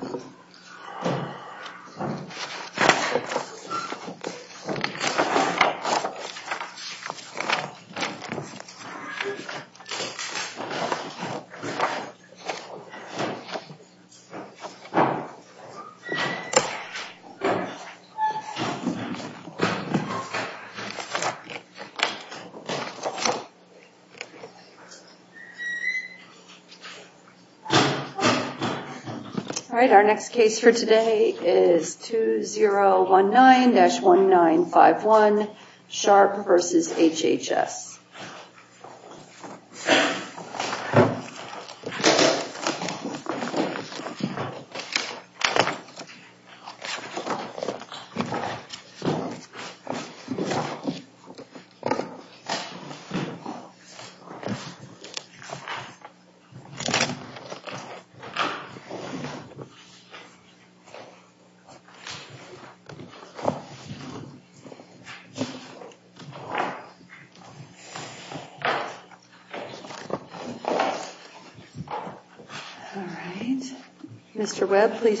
is up in case for today is 2019-1951, Sharp v. HHS. I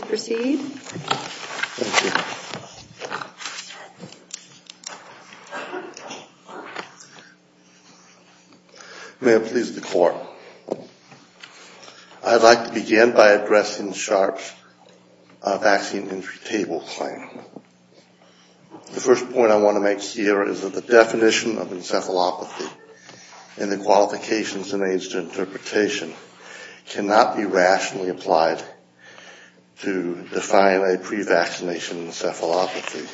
would like to begin by addressing Sharp's vaccine injury table claim. The first point I want to make here is that the definition of encephalopathy and the qualifications and age to interpretation cannot be rationally applied to define a pre-vaccination encephalopathy.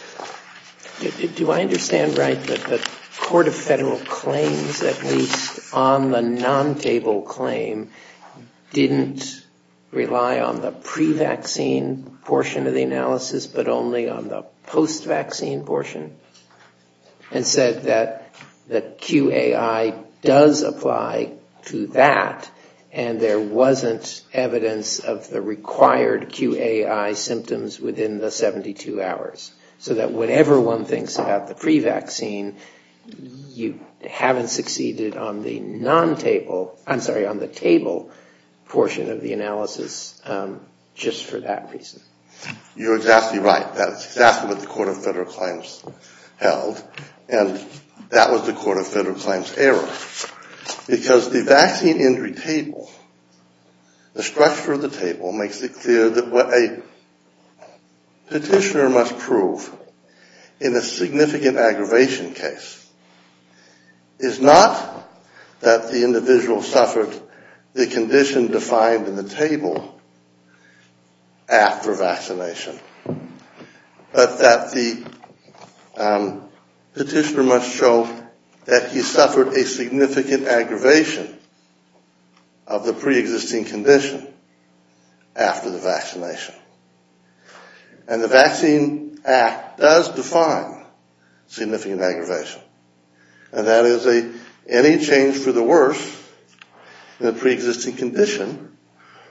Do I understand right that the Court of Federal Claims, at least on the non-table claim, didn't rely on the pre-vaccine portion of the analysis, but only on the post-vaccine portion, and said that QAI does apply to that and there wasn't evidence of the required QAI symptoms within the 72 hours, so that whenever one thinks about the pre-vaccine, you haven't succeeded on the non-table, I'm sorry, on the table portion of the analysis. You're exactly right. That's exactly what the Court of Federal Claims held, and that was the Court of Federal Claims' error, because the vaccine injury table, the structure of the table, makes it clear that what a petitioner must prove in a significant aggravation case is not that the individual suffered the condition defined in the definition of encephalopathy, after vaccination, but that the petitioner must show that he suffered a significant aggravation of the pre-existing condition after the vaccination, and the Vaccine Act does define significant aggravation, and that is any change for the worse in a pre-existing condition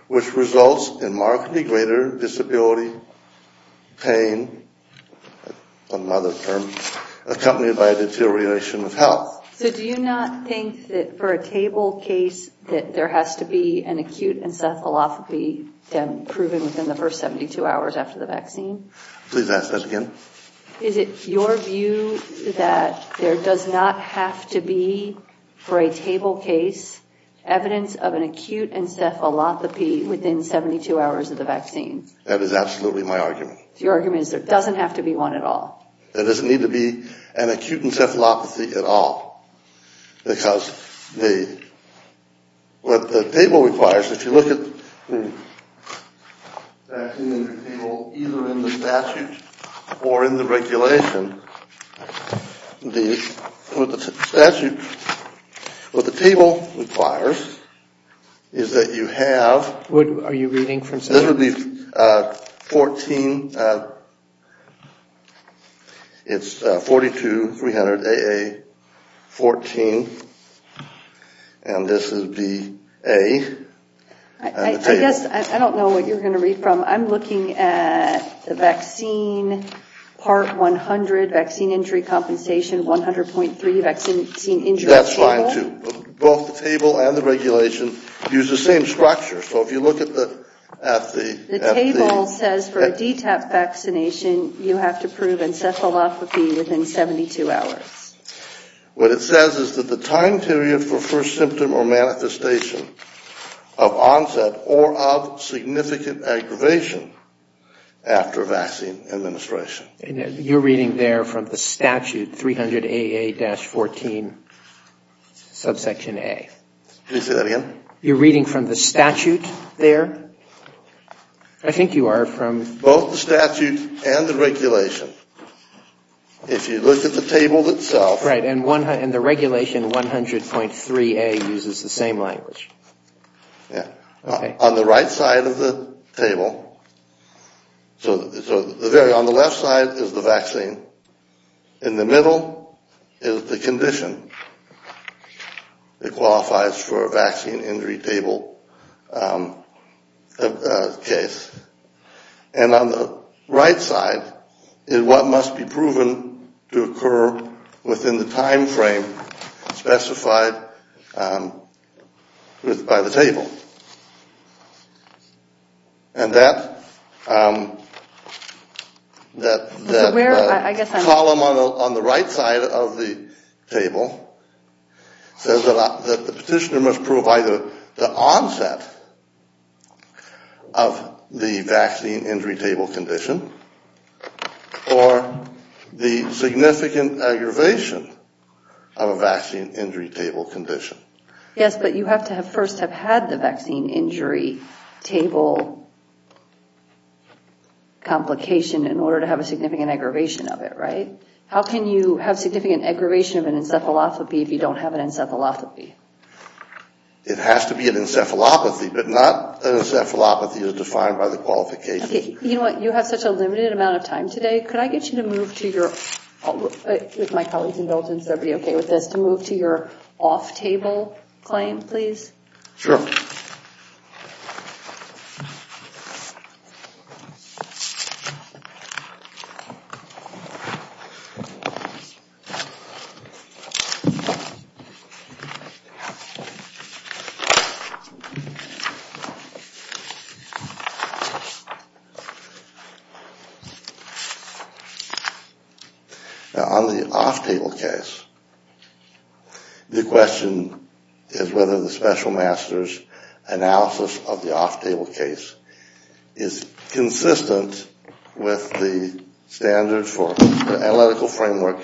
which results in markedly greater disability, pain, another term, accompanied by a deterioration of health. So do you not think that for a table case that there has to be an acute encephalopathy proven within the first 72 hours after the vaccine? Please ask that again. Is it your view that there does not have to be, for a table case, evidence of an acute encephalopathy within 72 hours of the vaccine? That is absolutely my argument. Your argument is there doesn't have to be one at all? There doesn't need to be an acute encephalopathy at all. Because what the table requires, if you look at either in the statute or in the regulation, what the table requires is that you have... It's 42-300-AA-14, and this is the A. I guess I don't know what you're going to read from. I'm looking at the vaccine part 100, vaccine injury compensation 100.3, vaccine injury table. That's fine, too. Both the table and the regulation use the same structure. So if you look at the... The table says for a DTAP vaccination, you have to prove encephalopathy within 72 hours. What it says is that the time period for first symptom or manifestation of onset or of significant aggravation after vaccine administration. You're reading there from the statute, 300-AA-14, subsection A. Can you say that again? You're reading from the statute there? I think you are from... Both the statute and the regulation. If you look at the table itself... Right. And the regulation 100.3A uses the same language. Yeah. Okay. On the right side of the table... So on the left side is the vaccine. In the middle is the condition that qualifies for a vaccine injury table case. And on the right side is what must be proven to occur within the time frame specified by the table. And that column on the right side of the table says that the petitioner must prove either the onset of the vaccine injury table condition or the significant aggravation of a vaccine injury table condition. Yes, but you have to first have had the vaccine injury table complication in order to have a significant aggravation of it, right? How can you have significant aggravation of an encephalopathy if you don't have an encephalopathy? It has to be an encephalopathy, but not an encephalopathy as defined by the qualifications. Okay. You know what? You have such a limited amount of time today. Could I get you to move to your off-table claim, please? Sure. Now, on the off-table case, the question is whether the special master's analysis of the off-table case is consistent with the standards for the analytical framework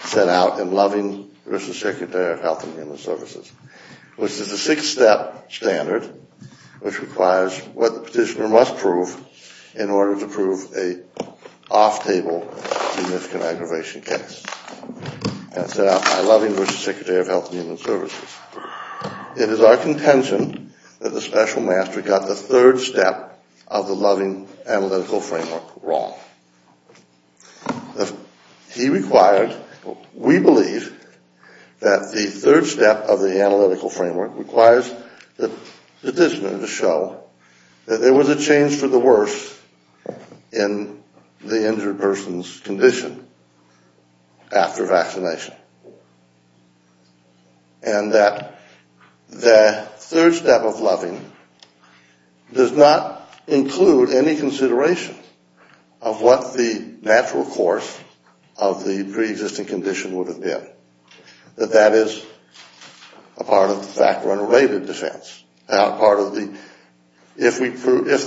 set out in Loving v. Secretary of Health and Human Services, which is a six-step standard, which requires what the petitioner must prove in order to prove an off-table significant aggravation case. That's set out by Loving v. Secretary of Health and Human Services. It is our contention that the special master got the third step of the Loving analytical framework wrong. He required, we believe, that the third step of the analytical framework requires the petitioner to show that there was a change for the worst in the injured person's condition after vaccination and that the third step of Loving does not include any consideration of what the natural course of the pre-existing condition would have been, that that is a part of the fact-run related defense. Now, if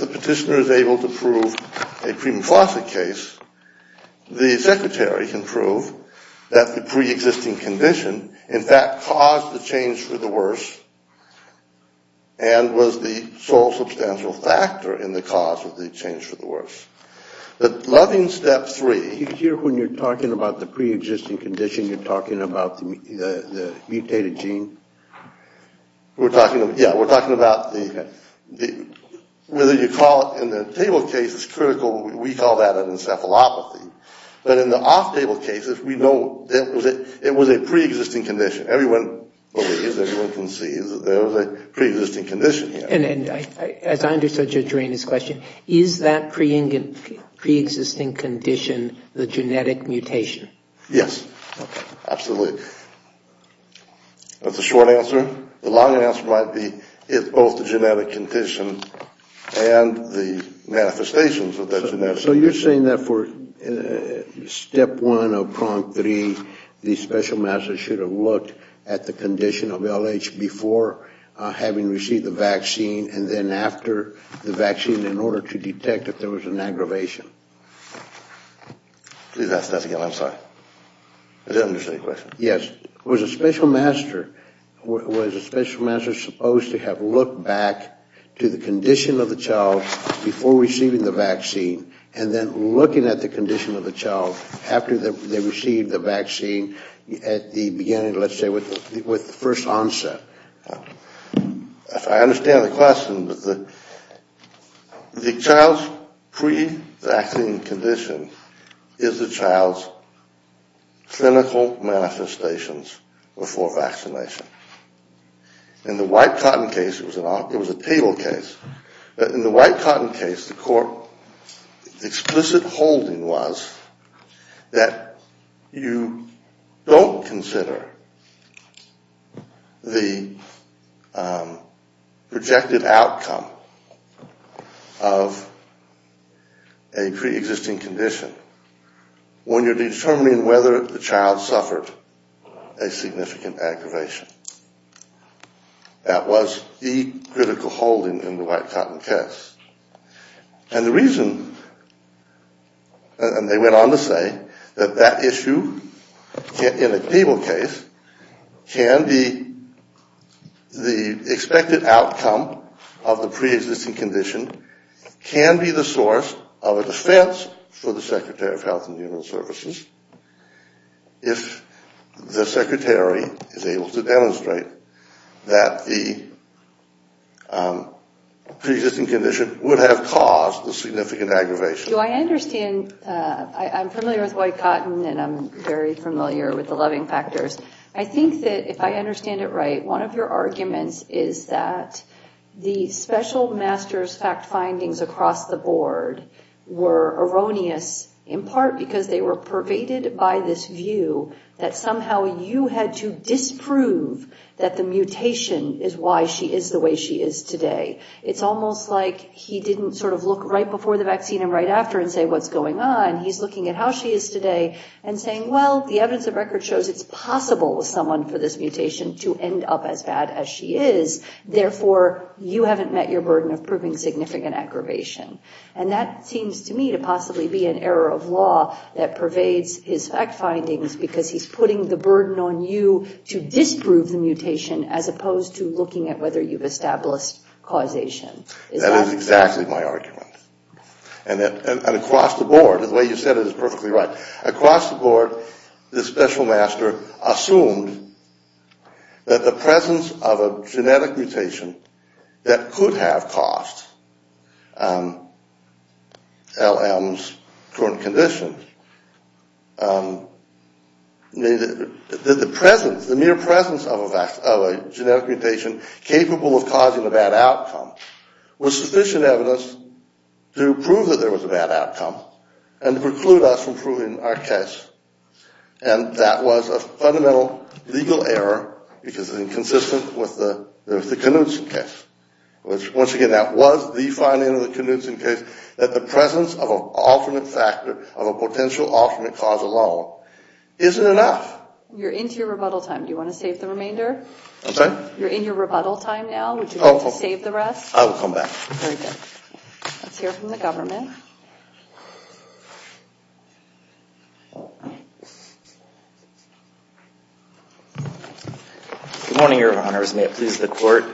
the petitioner is able to prove a premenopausal case, the secretary can prove that the pre-existing condition, in fact, caused the change for the worse and was the sole substantial factor in the cause of the change for the worse. But Loving's step three... You hear when you're talking about the pre-existing condition, you're talking about the mutated gene? Yeah, we're talking about whether you call it, in the table case it's critical, we call that an encephalopathy. But in the off-table cases, we know it was a pre-existing condition. Everyone believes, everyone can see that there was a pre-existing condition here. As I understood you during this question, is that pre-existing condition the genetic mutation? Yes, absolutely. That's the short answer. The long answer might be it's both the genetic condition and the manifestations of that genetic mutation. So you're saying that for step one of prong three, the special master should have looked at the condition of LH before having received the vaccine and then after the vaccine in order to detect that there was an aggravation? Please ask that again, I'm sorry. I didn't understand your question. Yes. Was a special master supposed to have looked back to the condition of the child before receiving the vaccine and then looking at the condition of the child after they received the vaccine at the beginning, let's say, with the first onset? If I understand the question, the child's pre-vaccine condition is the child's clinical manifestations before vaccination. In the white cotton case, the court's explicit holding was that you don't consider the projected outcome of a pre-existing condition when you're determining whether the child suffered a significant aggravation. That was the critical holding in the white cotton case. And the reason, and they went on to say, that that issue in a cable case can be the expected outcome of the pre-existing condition can be the source of a defense for the Secretary of Health and Human Services if the Secretary is able to demonstrate that the pre-existing condition would have caused the significant aggravation. Do I understand, I'm familiar with white cotton and I'm very familiar with the loving factors. I think that if I understand it right, one of your arguments is that the special master's fact findings across the board were erroneous, in part because they were pervaded by this view that somehow you had to disprove that the mutation is why she is the way she is today. It's almost like he didn't sort of look right before the vaccine and right after and say, what's going on? He's looking at how she is today and saying, well, the evidence of record shows it's possible for someone with this mutation to end up as bad as she is. Therefore, you haven't met your burden of proving significant aggravation. And that seems to me to possibly be an error of law that pervades his fact findings because he's putting the burden on you to disprove the mutation as opposed to looking at whether you've established causation. That is exactly my argument. And across the board, the way you said it is perfectly right. Across the board, the special master assumed that the presence of a genetic mutation that could have caused LM's current condition, that the mere presence of a genetic mutation capable of causing a bad outcome was sufficient evidence to prove that there was a bad outcome and preclude us from proving our case. And that was a fundamental legal error because it was inconsistent with the Knudsen case. Once again, that was the finding of the Knudsen case, that the presence of an alternate factor, of a potential alternate cause alone, isn't enough. You're into your rebuttal time. Do you want to save the remainder? I'm sorry? You're in your rebuttal time now. Would you like to save the rest? I will come back. Very good. Let's hear from the government. Good morning, Your Honors. May it please the Court.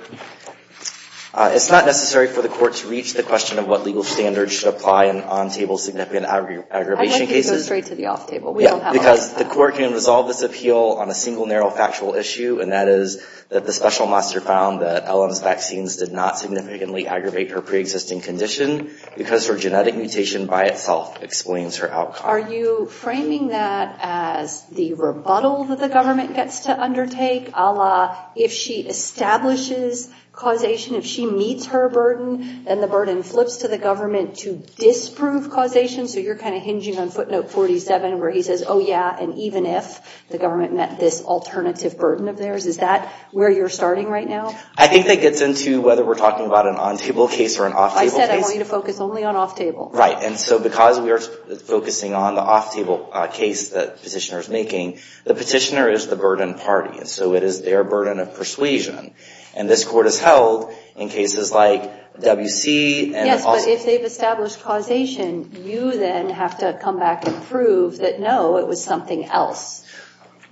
It's not necessary for the Court to reach the question of what legal standards should apply in on-table significant aggravation cases. I'd like you to go straight to the off-table. We don't have a lot of time. Because the Court can resolve this appeal on a single narrow factual issue, and that is that the special master found that LM's vaccines did not significantly aggravate her pre-existing condition because her genetic mutation by itself explains her outcome. Are you framing that as the rebuttal that the government gets to undertake, a la if she establishes causation, if she meets her burden, then the burden flips to the government to disprove causation? So you're kind of hinging on footnote 47 where he says, oh, yeah, and even if the government met this alternative burden of theirs. Is that where you're starting right now? I think that gets into whether we're talking about an on-table case or an off-table case. I said I want you to focus only on off-table. Right. And so because we are focusing on the off-table case that the petitioner is making, the petitioner is the burden party. And so it is their burden of persuasion. And this Court has held in cases like W.C. Yes, but if they've established causation, you then have to come back and prove that, no, it was something else.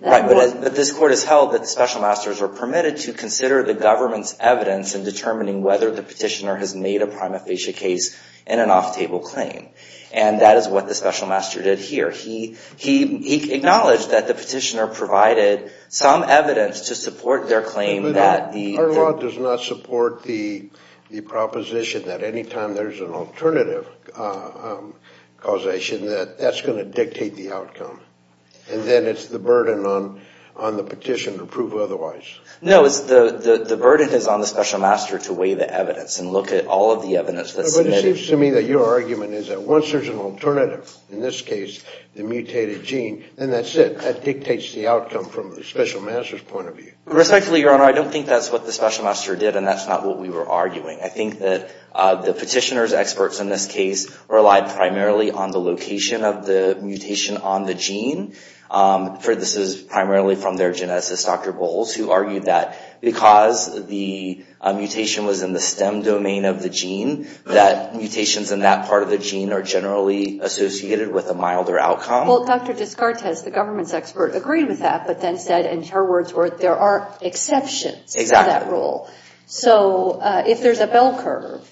Right. But this Court has held that the special masters are permitted to consider the government's evidence in determining whether the petitioner has made a claim. And that is what the special master did here. He acknowledged that the petitioner provided some evidence to support their claim that the Our law does not support the proposition that any time there's an alternative causation that that's going to dictate the outcome. And then it's the burden on the petition to prove otherwise. No, it's the burden is on the special master to weigh the evidence and look at all of the evidence that's submitted. It seems to me that your argument is that once there's an alternative, in this case, the mutated gene, then that's it. That dictates the outcome from the special master's point of view. Respectfully, Your Honor, I don't think that's what the special master did, and that's not what we were arguing. I think that the petitioner's experts in this case relied primarily on the location of the mutation on the gene. This is primarily from their geneticist, Dr. Bowles, who argued that because the mutation was in the stem domain of the gene, that mutations in that part of the gene are generally associated with a milder outcome. Well, Dr. Descartes, the government's expert, agreed with that, but then said, in her words, there are exceptions to that rule. So if there's a bell curve,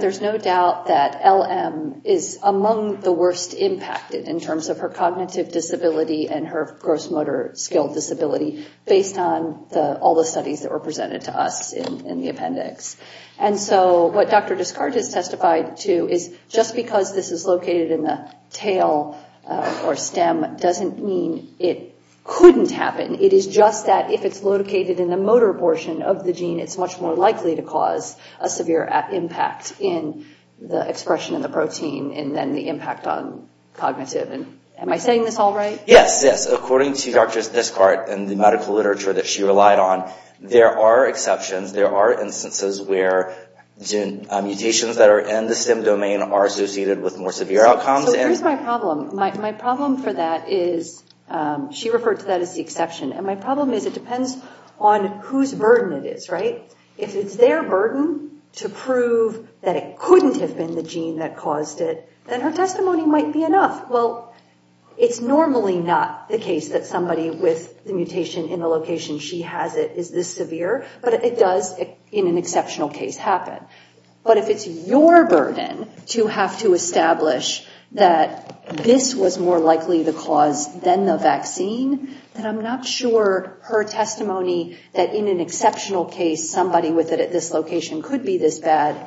there's no doubt that LM is among the worst impacted in terms of her cognitive disability and her gross motor skill disability based on all the studies that were presented to us in the appendix. And so what Dr. Descartes has testified to is just because this is located in the tail or stem doesn't mean it couldn't happen. It is just that if it's located in the motor portion of the gene, it's much more likely to cause a severe impact in the expression of the protein and then the impact on cognitive. And am I saying this all right? Yes, yes. According to Dr. Descartes and the medical literature that she relied on, there are exceptions. There are instances where mutations that are in the stem domain are associated with more severe outcomes. So here's my problem. My problem for that is she referred to that as the exception. And my problem is it depends on whose burden it is, right? If it's their burden to prove that it couldn't have been the gene that caused it, then her testimony might be enough. Well, it's normally not the case that somebody with the mutation in the location she has it is this severe, but it does in an exceptional case happen. But if it's your burden to have to establish that this was more likely the cause than the vaccine, then I'm not sure her testimony that in an exceptional case, somebody with it at this location could be this bad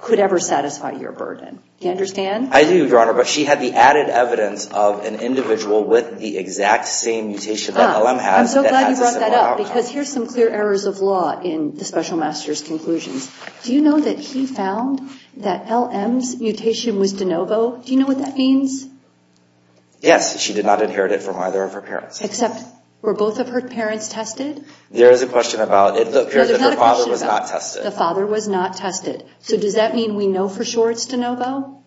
could ever satisfy your burden. Do you understand? I do, Your Honor, but she had the added evidence of an individual with the exact same mutation that LM has. I'm so glad you brought that up because here's some clear errors of law in the special master's conclusions. Do you know that he found that LM's mutation was de novo? Do you know what that means? Yes. She did not inherit it from either of her parents. Except were both of her parents tested? There is a question about it appears that her father was not tested. The father was not tested. So does that mean we know for sure it's de novo?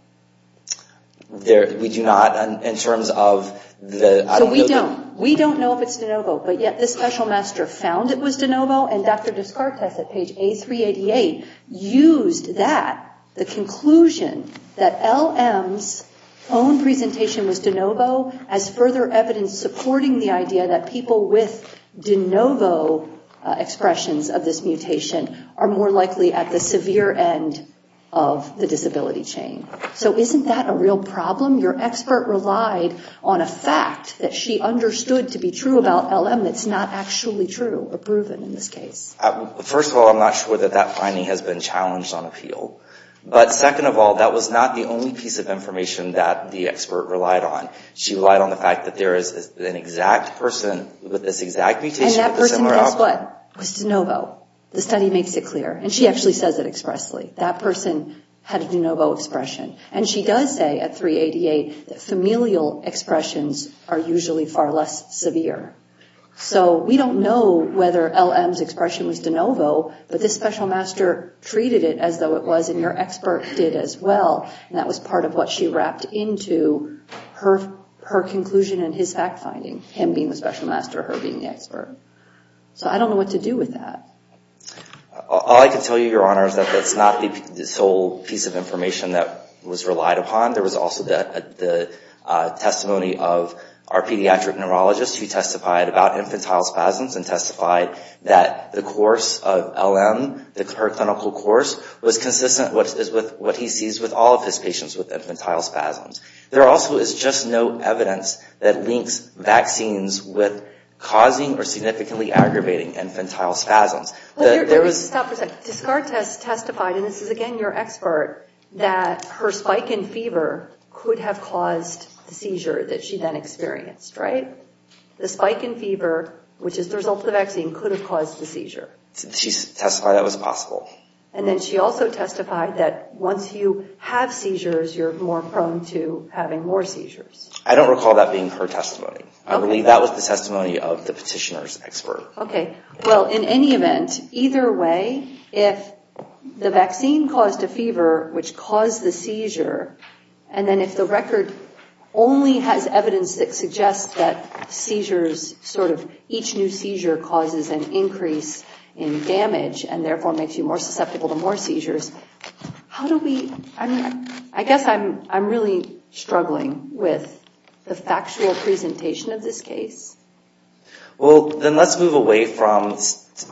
We do not in terms of the... We don't. We don't know if it's de novo, but yet the special master found it was de novo, and Dr. Descartes at page A388 used that, the conclusion that LM's own presentation was de novo, as further evidence supporting the idea that people with de novo expressions of this mutation are more likely at the severe end of the disability chain. So isn't that a real problem? Your expert relied on a fact that she understood to be true about LM that's not actually true or proven in this case. First of all, I'm not sure that that finding has been challenged on appeal. But second of all, that was not the only piece of information that the expert relied on. She relied on the fact that there is an exact person with this exact mutation... And that person does what? Was de novo. The study makes it clear. And she actually says it expressly. That person had a de novo expression. And she does say at 388 that familial expressions are usually far less severe. So we don't know whether LM's expression was de novo, but this special master treated it as though it was, and your expert did as well. And that was part of what she wrapped into her conclusion and his fact finding, him being the special master, her being the expert. So I don't know what to do with that. All I can tell you, your honor, is that that's not the sole piece of information that was relied upon. There was also the testimony of our pediatric neurologist who testified about infantile spasms and testified that the course of LM, her clinical course, was consistent with what he sees with all of his patients with infantile spasms. There also is just no evidence that links vaccines with causing or significantly aggravating infantile spasms. Let me just stop for a second. Descartes testified, and this is again your expert, that her spike in fever could have caused the seizure that she then experienced, right? The spike in fever, which is the result of the vaccine, could have caused the seizure. She testified that was possible. And then she also testified that once you have seizures, you're more prone to having more seizures. I don't recall that being her testimony. I believe that was the testimony of the petitioner's expert. Okay. Well, in any event, either way, if the vaccine caused a fever, which caused the seizure, and then if the record only has evidence that suggests that seizures, sort of each new seizure causes an increase in damage and therefore makes you more susceptible to more seizures, how do we, I mean, I guess I'm really struggling with the factual presentation of this case. Well, then let's move away from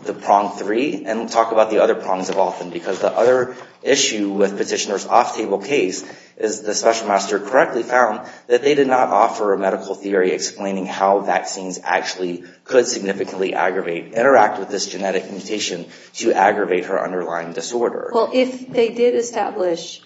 the prong three and talk about the other prongs of often, because the other issue with petitioner's off-table case is the special master correctly found that they did not offer a medical theory explaining how vaccines actually could significantly aggravate, interact with this genetic mutation to aggravate her underlying disorder. Well, if they did establish,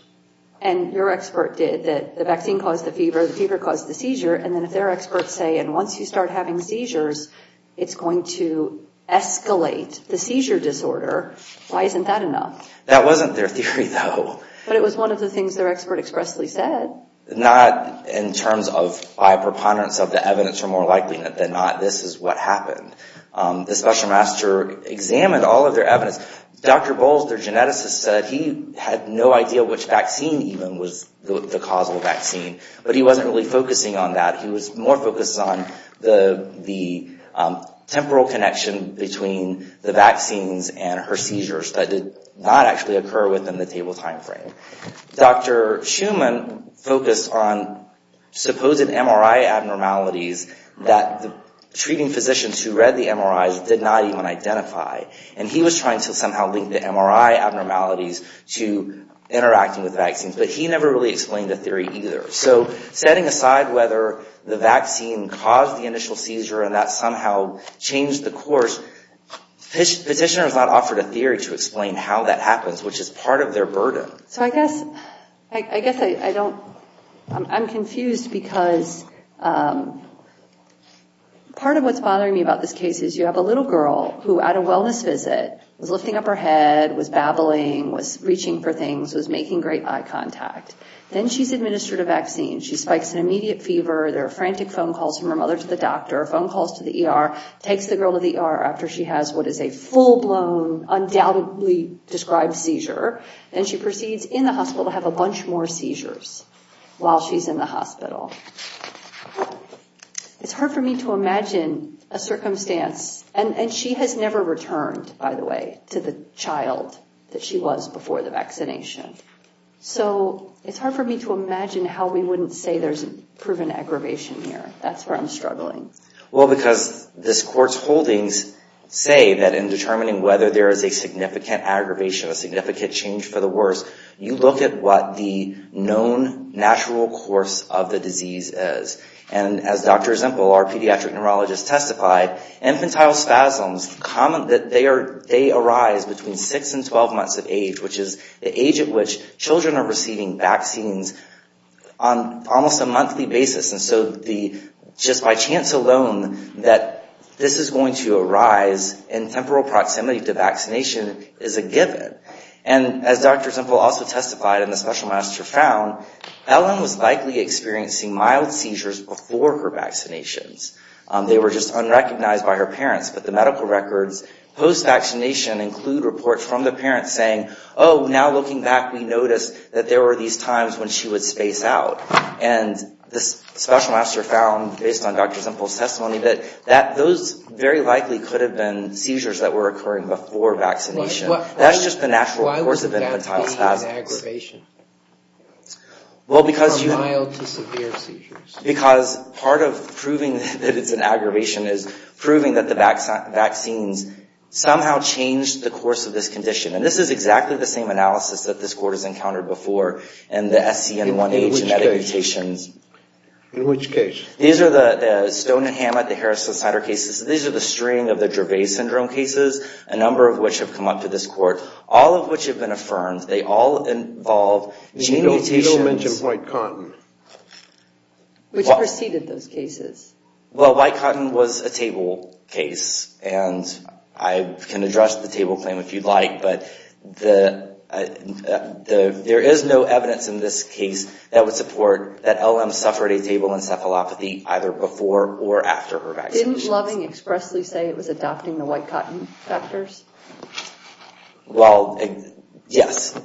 and your expert did, that the vaccine caused the fever, the fever caused the seizure, and then if their experts say, and once you start having seizures, it's going to escalate the seizure disorder, why isn't that enough? That wasn't their theory, though. But it was one of the things their expert expressly said. Well, not in terms of by preponderance of the evidence or more likelihood than not, this is what happened. The special master examined all of their evidence. Dr. Bowles, their geneticist, said he had no idea which vaccine even was the causal vaccine, but he wasn't really focusing on that. He was more focused on the temporal connection between the vaccines and her seizures that did not actually occur within the table timeframe. Dr. Schumann focused on supposed MRI abnormalities that the treating physicians who read the MRIs did not even identify. And he was trying to somehow link the MRI abnormalities to interacting with vaccines, but he never really explained the theory either. So setting aside whether the vaccine caused the initial seizure and that somehow changed the course, petitioners not offered a theory to explain how that happens, which is part of their burden. So I guess I'm confused because part of what's bothering me about this case is you have a little girl who, at a wellness visit, was lifting up her head, was babbling, was reaching for things, was making great eye contact. Then she's administered a vaccine. She spikes an immediate fever. There are frantic phone calls from her mother to the doctor, phone calls to the ER, takes the girl to the ER after she has what is a full-blown, undoubtedly described seizure. Then she proceeds in the hospital to have a bunch more seizures while she's in the hospital. It's hard for me to imagine a circumstance, and she has never returned, by the way, to the child that she was before the vaccination. So it's hard for me to imagine how we wouldn't say there's a proven aggravation here. That's where I'm struggling. Well, because this Court's holdings say that in determining whether there is a significant aggravation, a significant change for the worse, you look at what the known natural course of the disease is. And as Dr. Zimpel, our pediatric neurologist, testified, infantile spasms, they arise between 6 and 12 months of age, which is the age at which children are receiving vaccines on almost a monthly basis. And so just by chance alone that this is going to arise in temporal proximity to vaccination is a given. And as Dr. Zimpel also testified and the special master found, Ellen was likely experiencing mild seizures before her vaccinations. They were just unrecognized by her parents. But the medical records post-vaccination include reports from the parents saying, oh, now looking back, we noticed that there were these times when she would space out. And the special master found, based on Dr. Zimpel's testimony, that those very likely could have been seizures that were occurring before vaccination. That's just the natural course of infantile spasms. Why would that be an aggravation from mild to severe seizures? Because part of proving that it's an aggravation is proving that the vaccines somehow changed the course of this condition. And this is exactly the same analysis that this Court has encountered before in the SCN1H genetic mutations. In which case? These are the Stone and Hammett, the Harris and Snyder cases. These are the string of the Dravet syndrome cases, a number of which have come up to this Court, all of which have been affirmed. They all involve gene mutations. You don't mention white cotton, which preceded those cases. Well, white cotton was a table case. And I can address the table claim if you'd like. But there is no evidence in this case that would support that LM suffered a table encephalopathy either before or after her vaccination. Didn't Loving expressly say it was adopting the white cotton factors? Well, yes.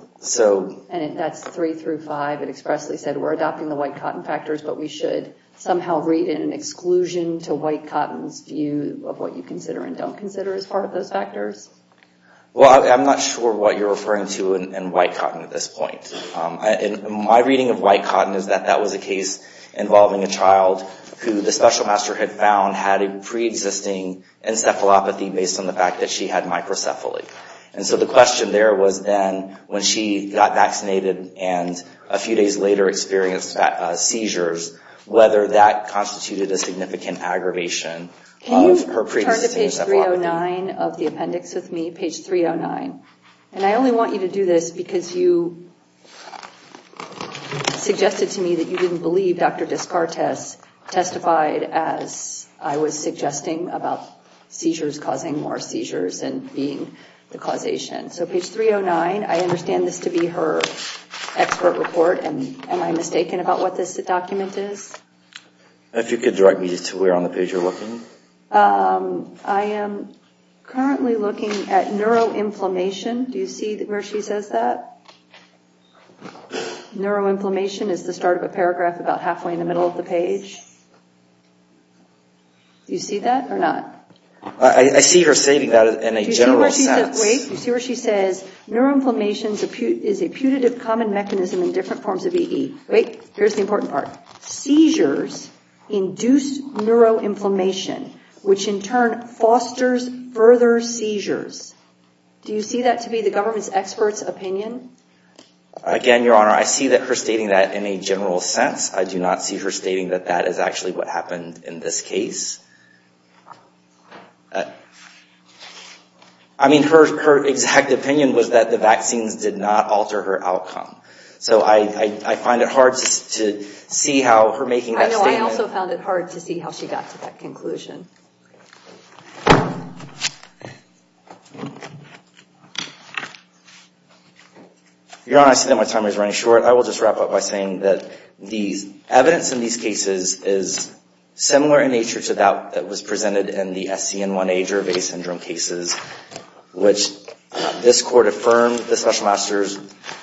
And that's three through five. It expressly said we're adopting the white cotton factors, but we should somehow read it in exclusion to white cotton's view of what you consider and don't consider as part of those factors? Well, I'm not sure what you're referring to in white cotton at this point. My reading of white cotton is that that was a case involving a child who the special master had found had a preexisting encephalopathy based on the fact that she had microcephaly. And so the question there was then when she got vaccinated and a few days later experienced seizures, whether that constituted a significant aggravation of her preexisting encephalopathy. Page 309 of the appendix with me, page 309. And I only want you to do this because you suggested to me that you didn't believe Dr. Descartes testified as I was suggesting about seizures causing more seizures and being the causation. So page 309, I understand this to be her expert report, and am I mistaken about what this document is? If you could direct me to where on the page you're looking. I am currently looking at neuroinflammation. Do you see where she says that? Neuroinflammation is the start of a paragraph about halfway in the middle of the page. Do you see that or not? I see her stating that in a general sense. Do you see where she says, wait, do you see where she says, neuroinflammation is a putative common mechanism in different forms of EE. Wait, here's the important part. Seizures induce neuroinflammation, which in turn fosters further seizures. Do you see that to be the government's expert's opinion? Again, Your Honor, I see her stating that in a general sense. I do not see her stating that that is actually what happened in this case. I mean, her exact opinion was that the vaccines did not alter her outcome. So I find it hard to see how her making that statement. I know. I also found it hard to see how she got to that conclusion. Your Honor, I see that my time is running short. I will just wrap up by saying that the evidence in these cases is similar in nature to that that was presented in the SCN1A Gervais syndrome cases, which this Court affirmed the Special Master's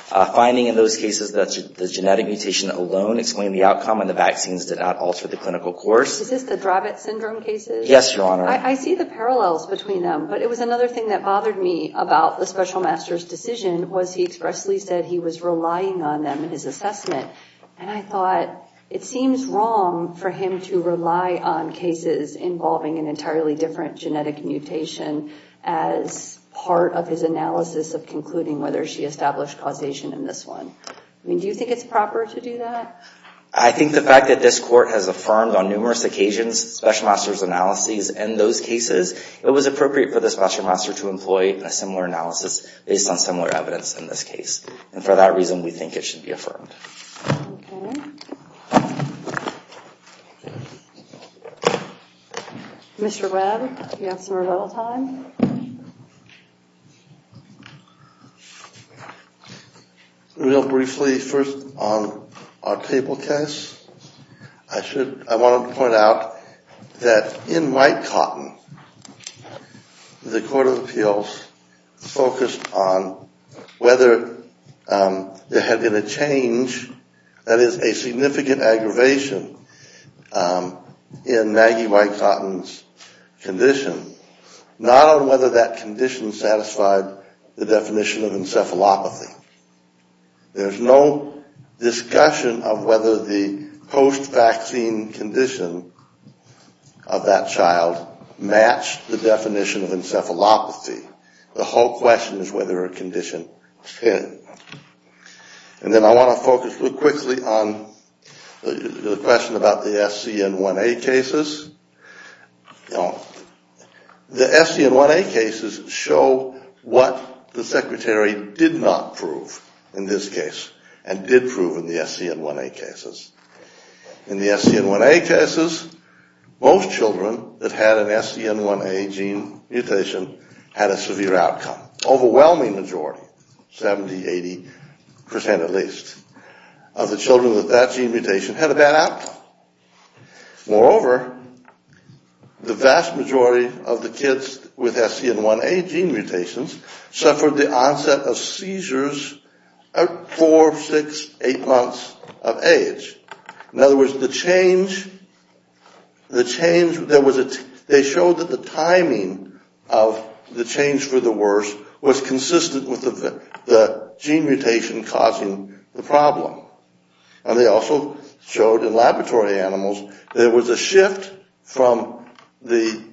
finding in those cases that the genetic mutation alone explained the outcome and the vaccines did not alter the clinical course. Is this the Dravet syndrome cases? Yes, Your Honor. I see the parallels between them. But it was another thing that bothered me about the Special Master's decision was he expressly said he was relying on them in his assessment. And I thought it seems wrong for him to rely on cases involving an entirely different genetic mutation as part of his analysis of concluding whether she established causation in this one. I mean, do you think it's proper to do that? I think the fact that this Court has affirmed on numerous occasions Special Master's analyses in those cases, it was appropriate for the Special Master to employ a similar analysis based on similar evidence in this case. And for that reason, we think it should be affirmed. Okay. Mr. Webb, you have some rebuttal time. Real briefly, first on our table case, I want to point out that in White-Cotton, the Court of Appeals focused on whether there had been a change, that is a significant aggravation in Maggie White-Cotton's condition, not on whether that condition satisfied the definition of encephalopathy. There's no discussion of whether the post-vaccine condition of that child matched the definition of encephalopathy. The whole question is whether a condition fit. And then I want to focus real quickly on the question about the SC and 1A cases. The SC and 1A cases show what the Secretary did not prove in this case and did prove in the SC and 1A cases. In the SC and 1A cases, most children that had an SC and 1A gene mutation had a severe outcome. Overwhelming majority, 70, 80 percent at least, of the children with that gene mutation had a bad outcome. Moreover, the vast majority of the kids with SC and 1A gene mutations suffered the onset of seizures at four, six, eight months of age. In other words, the change, they showed that the timing of the change for the worse was consistent with the gene mutation causing the problem. And they also showed in laboratory animals there was a shift from using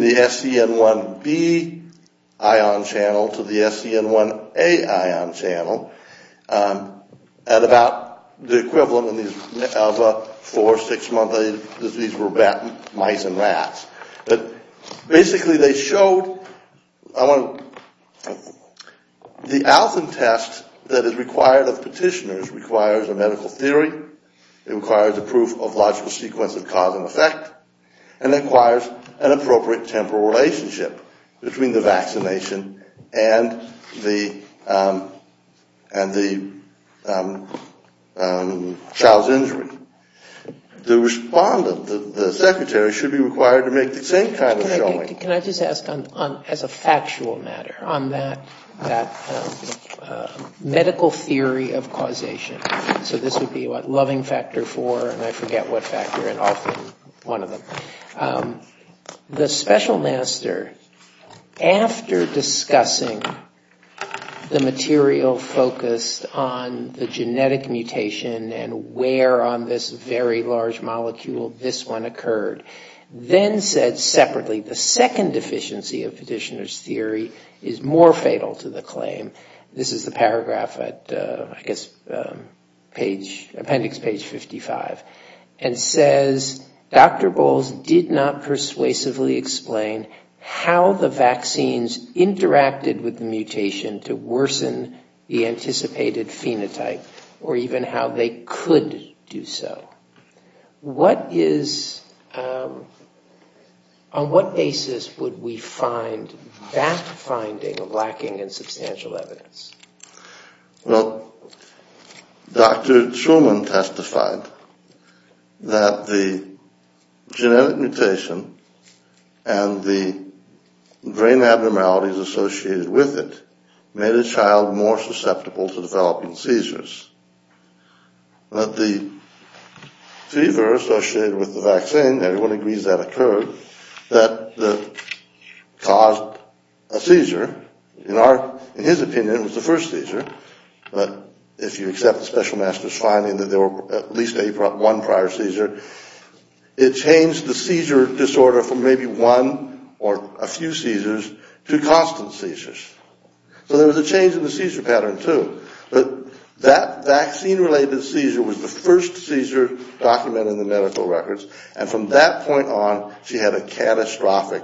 the SC and 1B ion channel to the SC and 1A ion channel at about the equivalent of a four, six-month age. These were mice and rats. Basically they showed the ALFN test that is required of petitioners requires a medical theory. It requires a proof of logical sequence of cause and effect. And it requires an appropriate temporal relationship between the vaccination and the child's injury. The respondent, the secretary, should be required to make the same kind of showing. Can I just ask as a factual matter on that medical theory of causation? So this would be what loving factor four, and I forget what factor, and often one of them. The special master, after discussing the material focused on the genetic mutation and where on the genome, this very large molecule, this one occurred, then said separately, the second deficiency of petitioner's theory is more fatal to the claim. This is the paragraph at, I guess, appendix page 55. And says, Dr. Bowles did not persuasively explain how the vaccines interacted with the mutation to worsen the anticipated phenotype, or even how they could do so. What is, on what basis would we find that finding lacking in substantial evidence? Well, Dr. Truman testified that the genetic mutation and the brain abnormalities associated with it made a child more susceptible to developing seizures. But the fever associated with the vaccine, everyone agrees that occurred, that caused a seizure. In his opinion, it was the first seizure, but if you accept the special master's finding that there were at least one prior seizure, it changed the seizure disorder from maybe one or a few seizures to constant seizures. So there was a change in the seizure pattern, too, but that vaccine-related seizure was the first seizure documented in the medical records, and from that point on, she had a catastrophic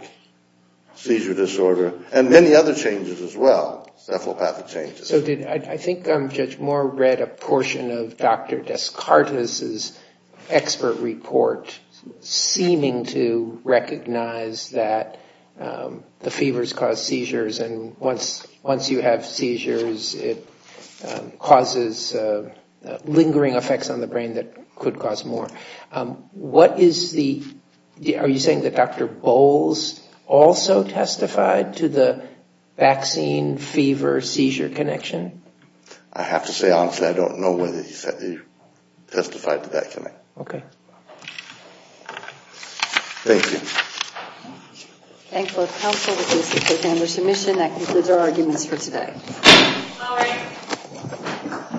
seizure disorder, and many other changes as well, cephalopathic changes. So did, I think Judge Moore read a portion of Dr. Descartes' expert report seeming to recognize that the fevers caused seizures, and once you have seizures, it causes lingering effects on the brain that could cause more. What is the, are you saying that Dr. Bowles also testified to the vaccine-fever-seizure connection? I have to say, honestly, I don't know whether he testified to that connection. Thank you.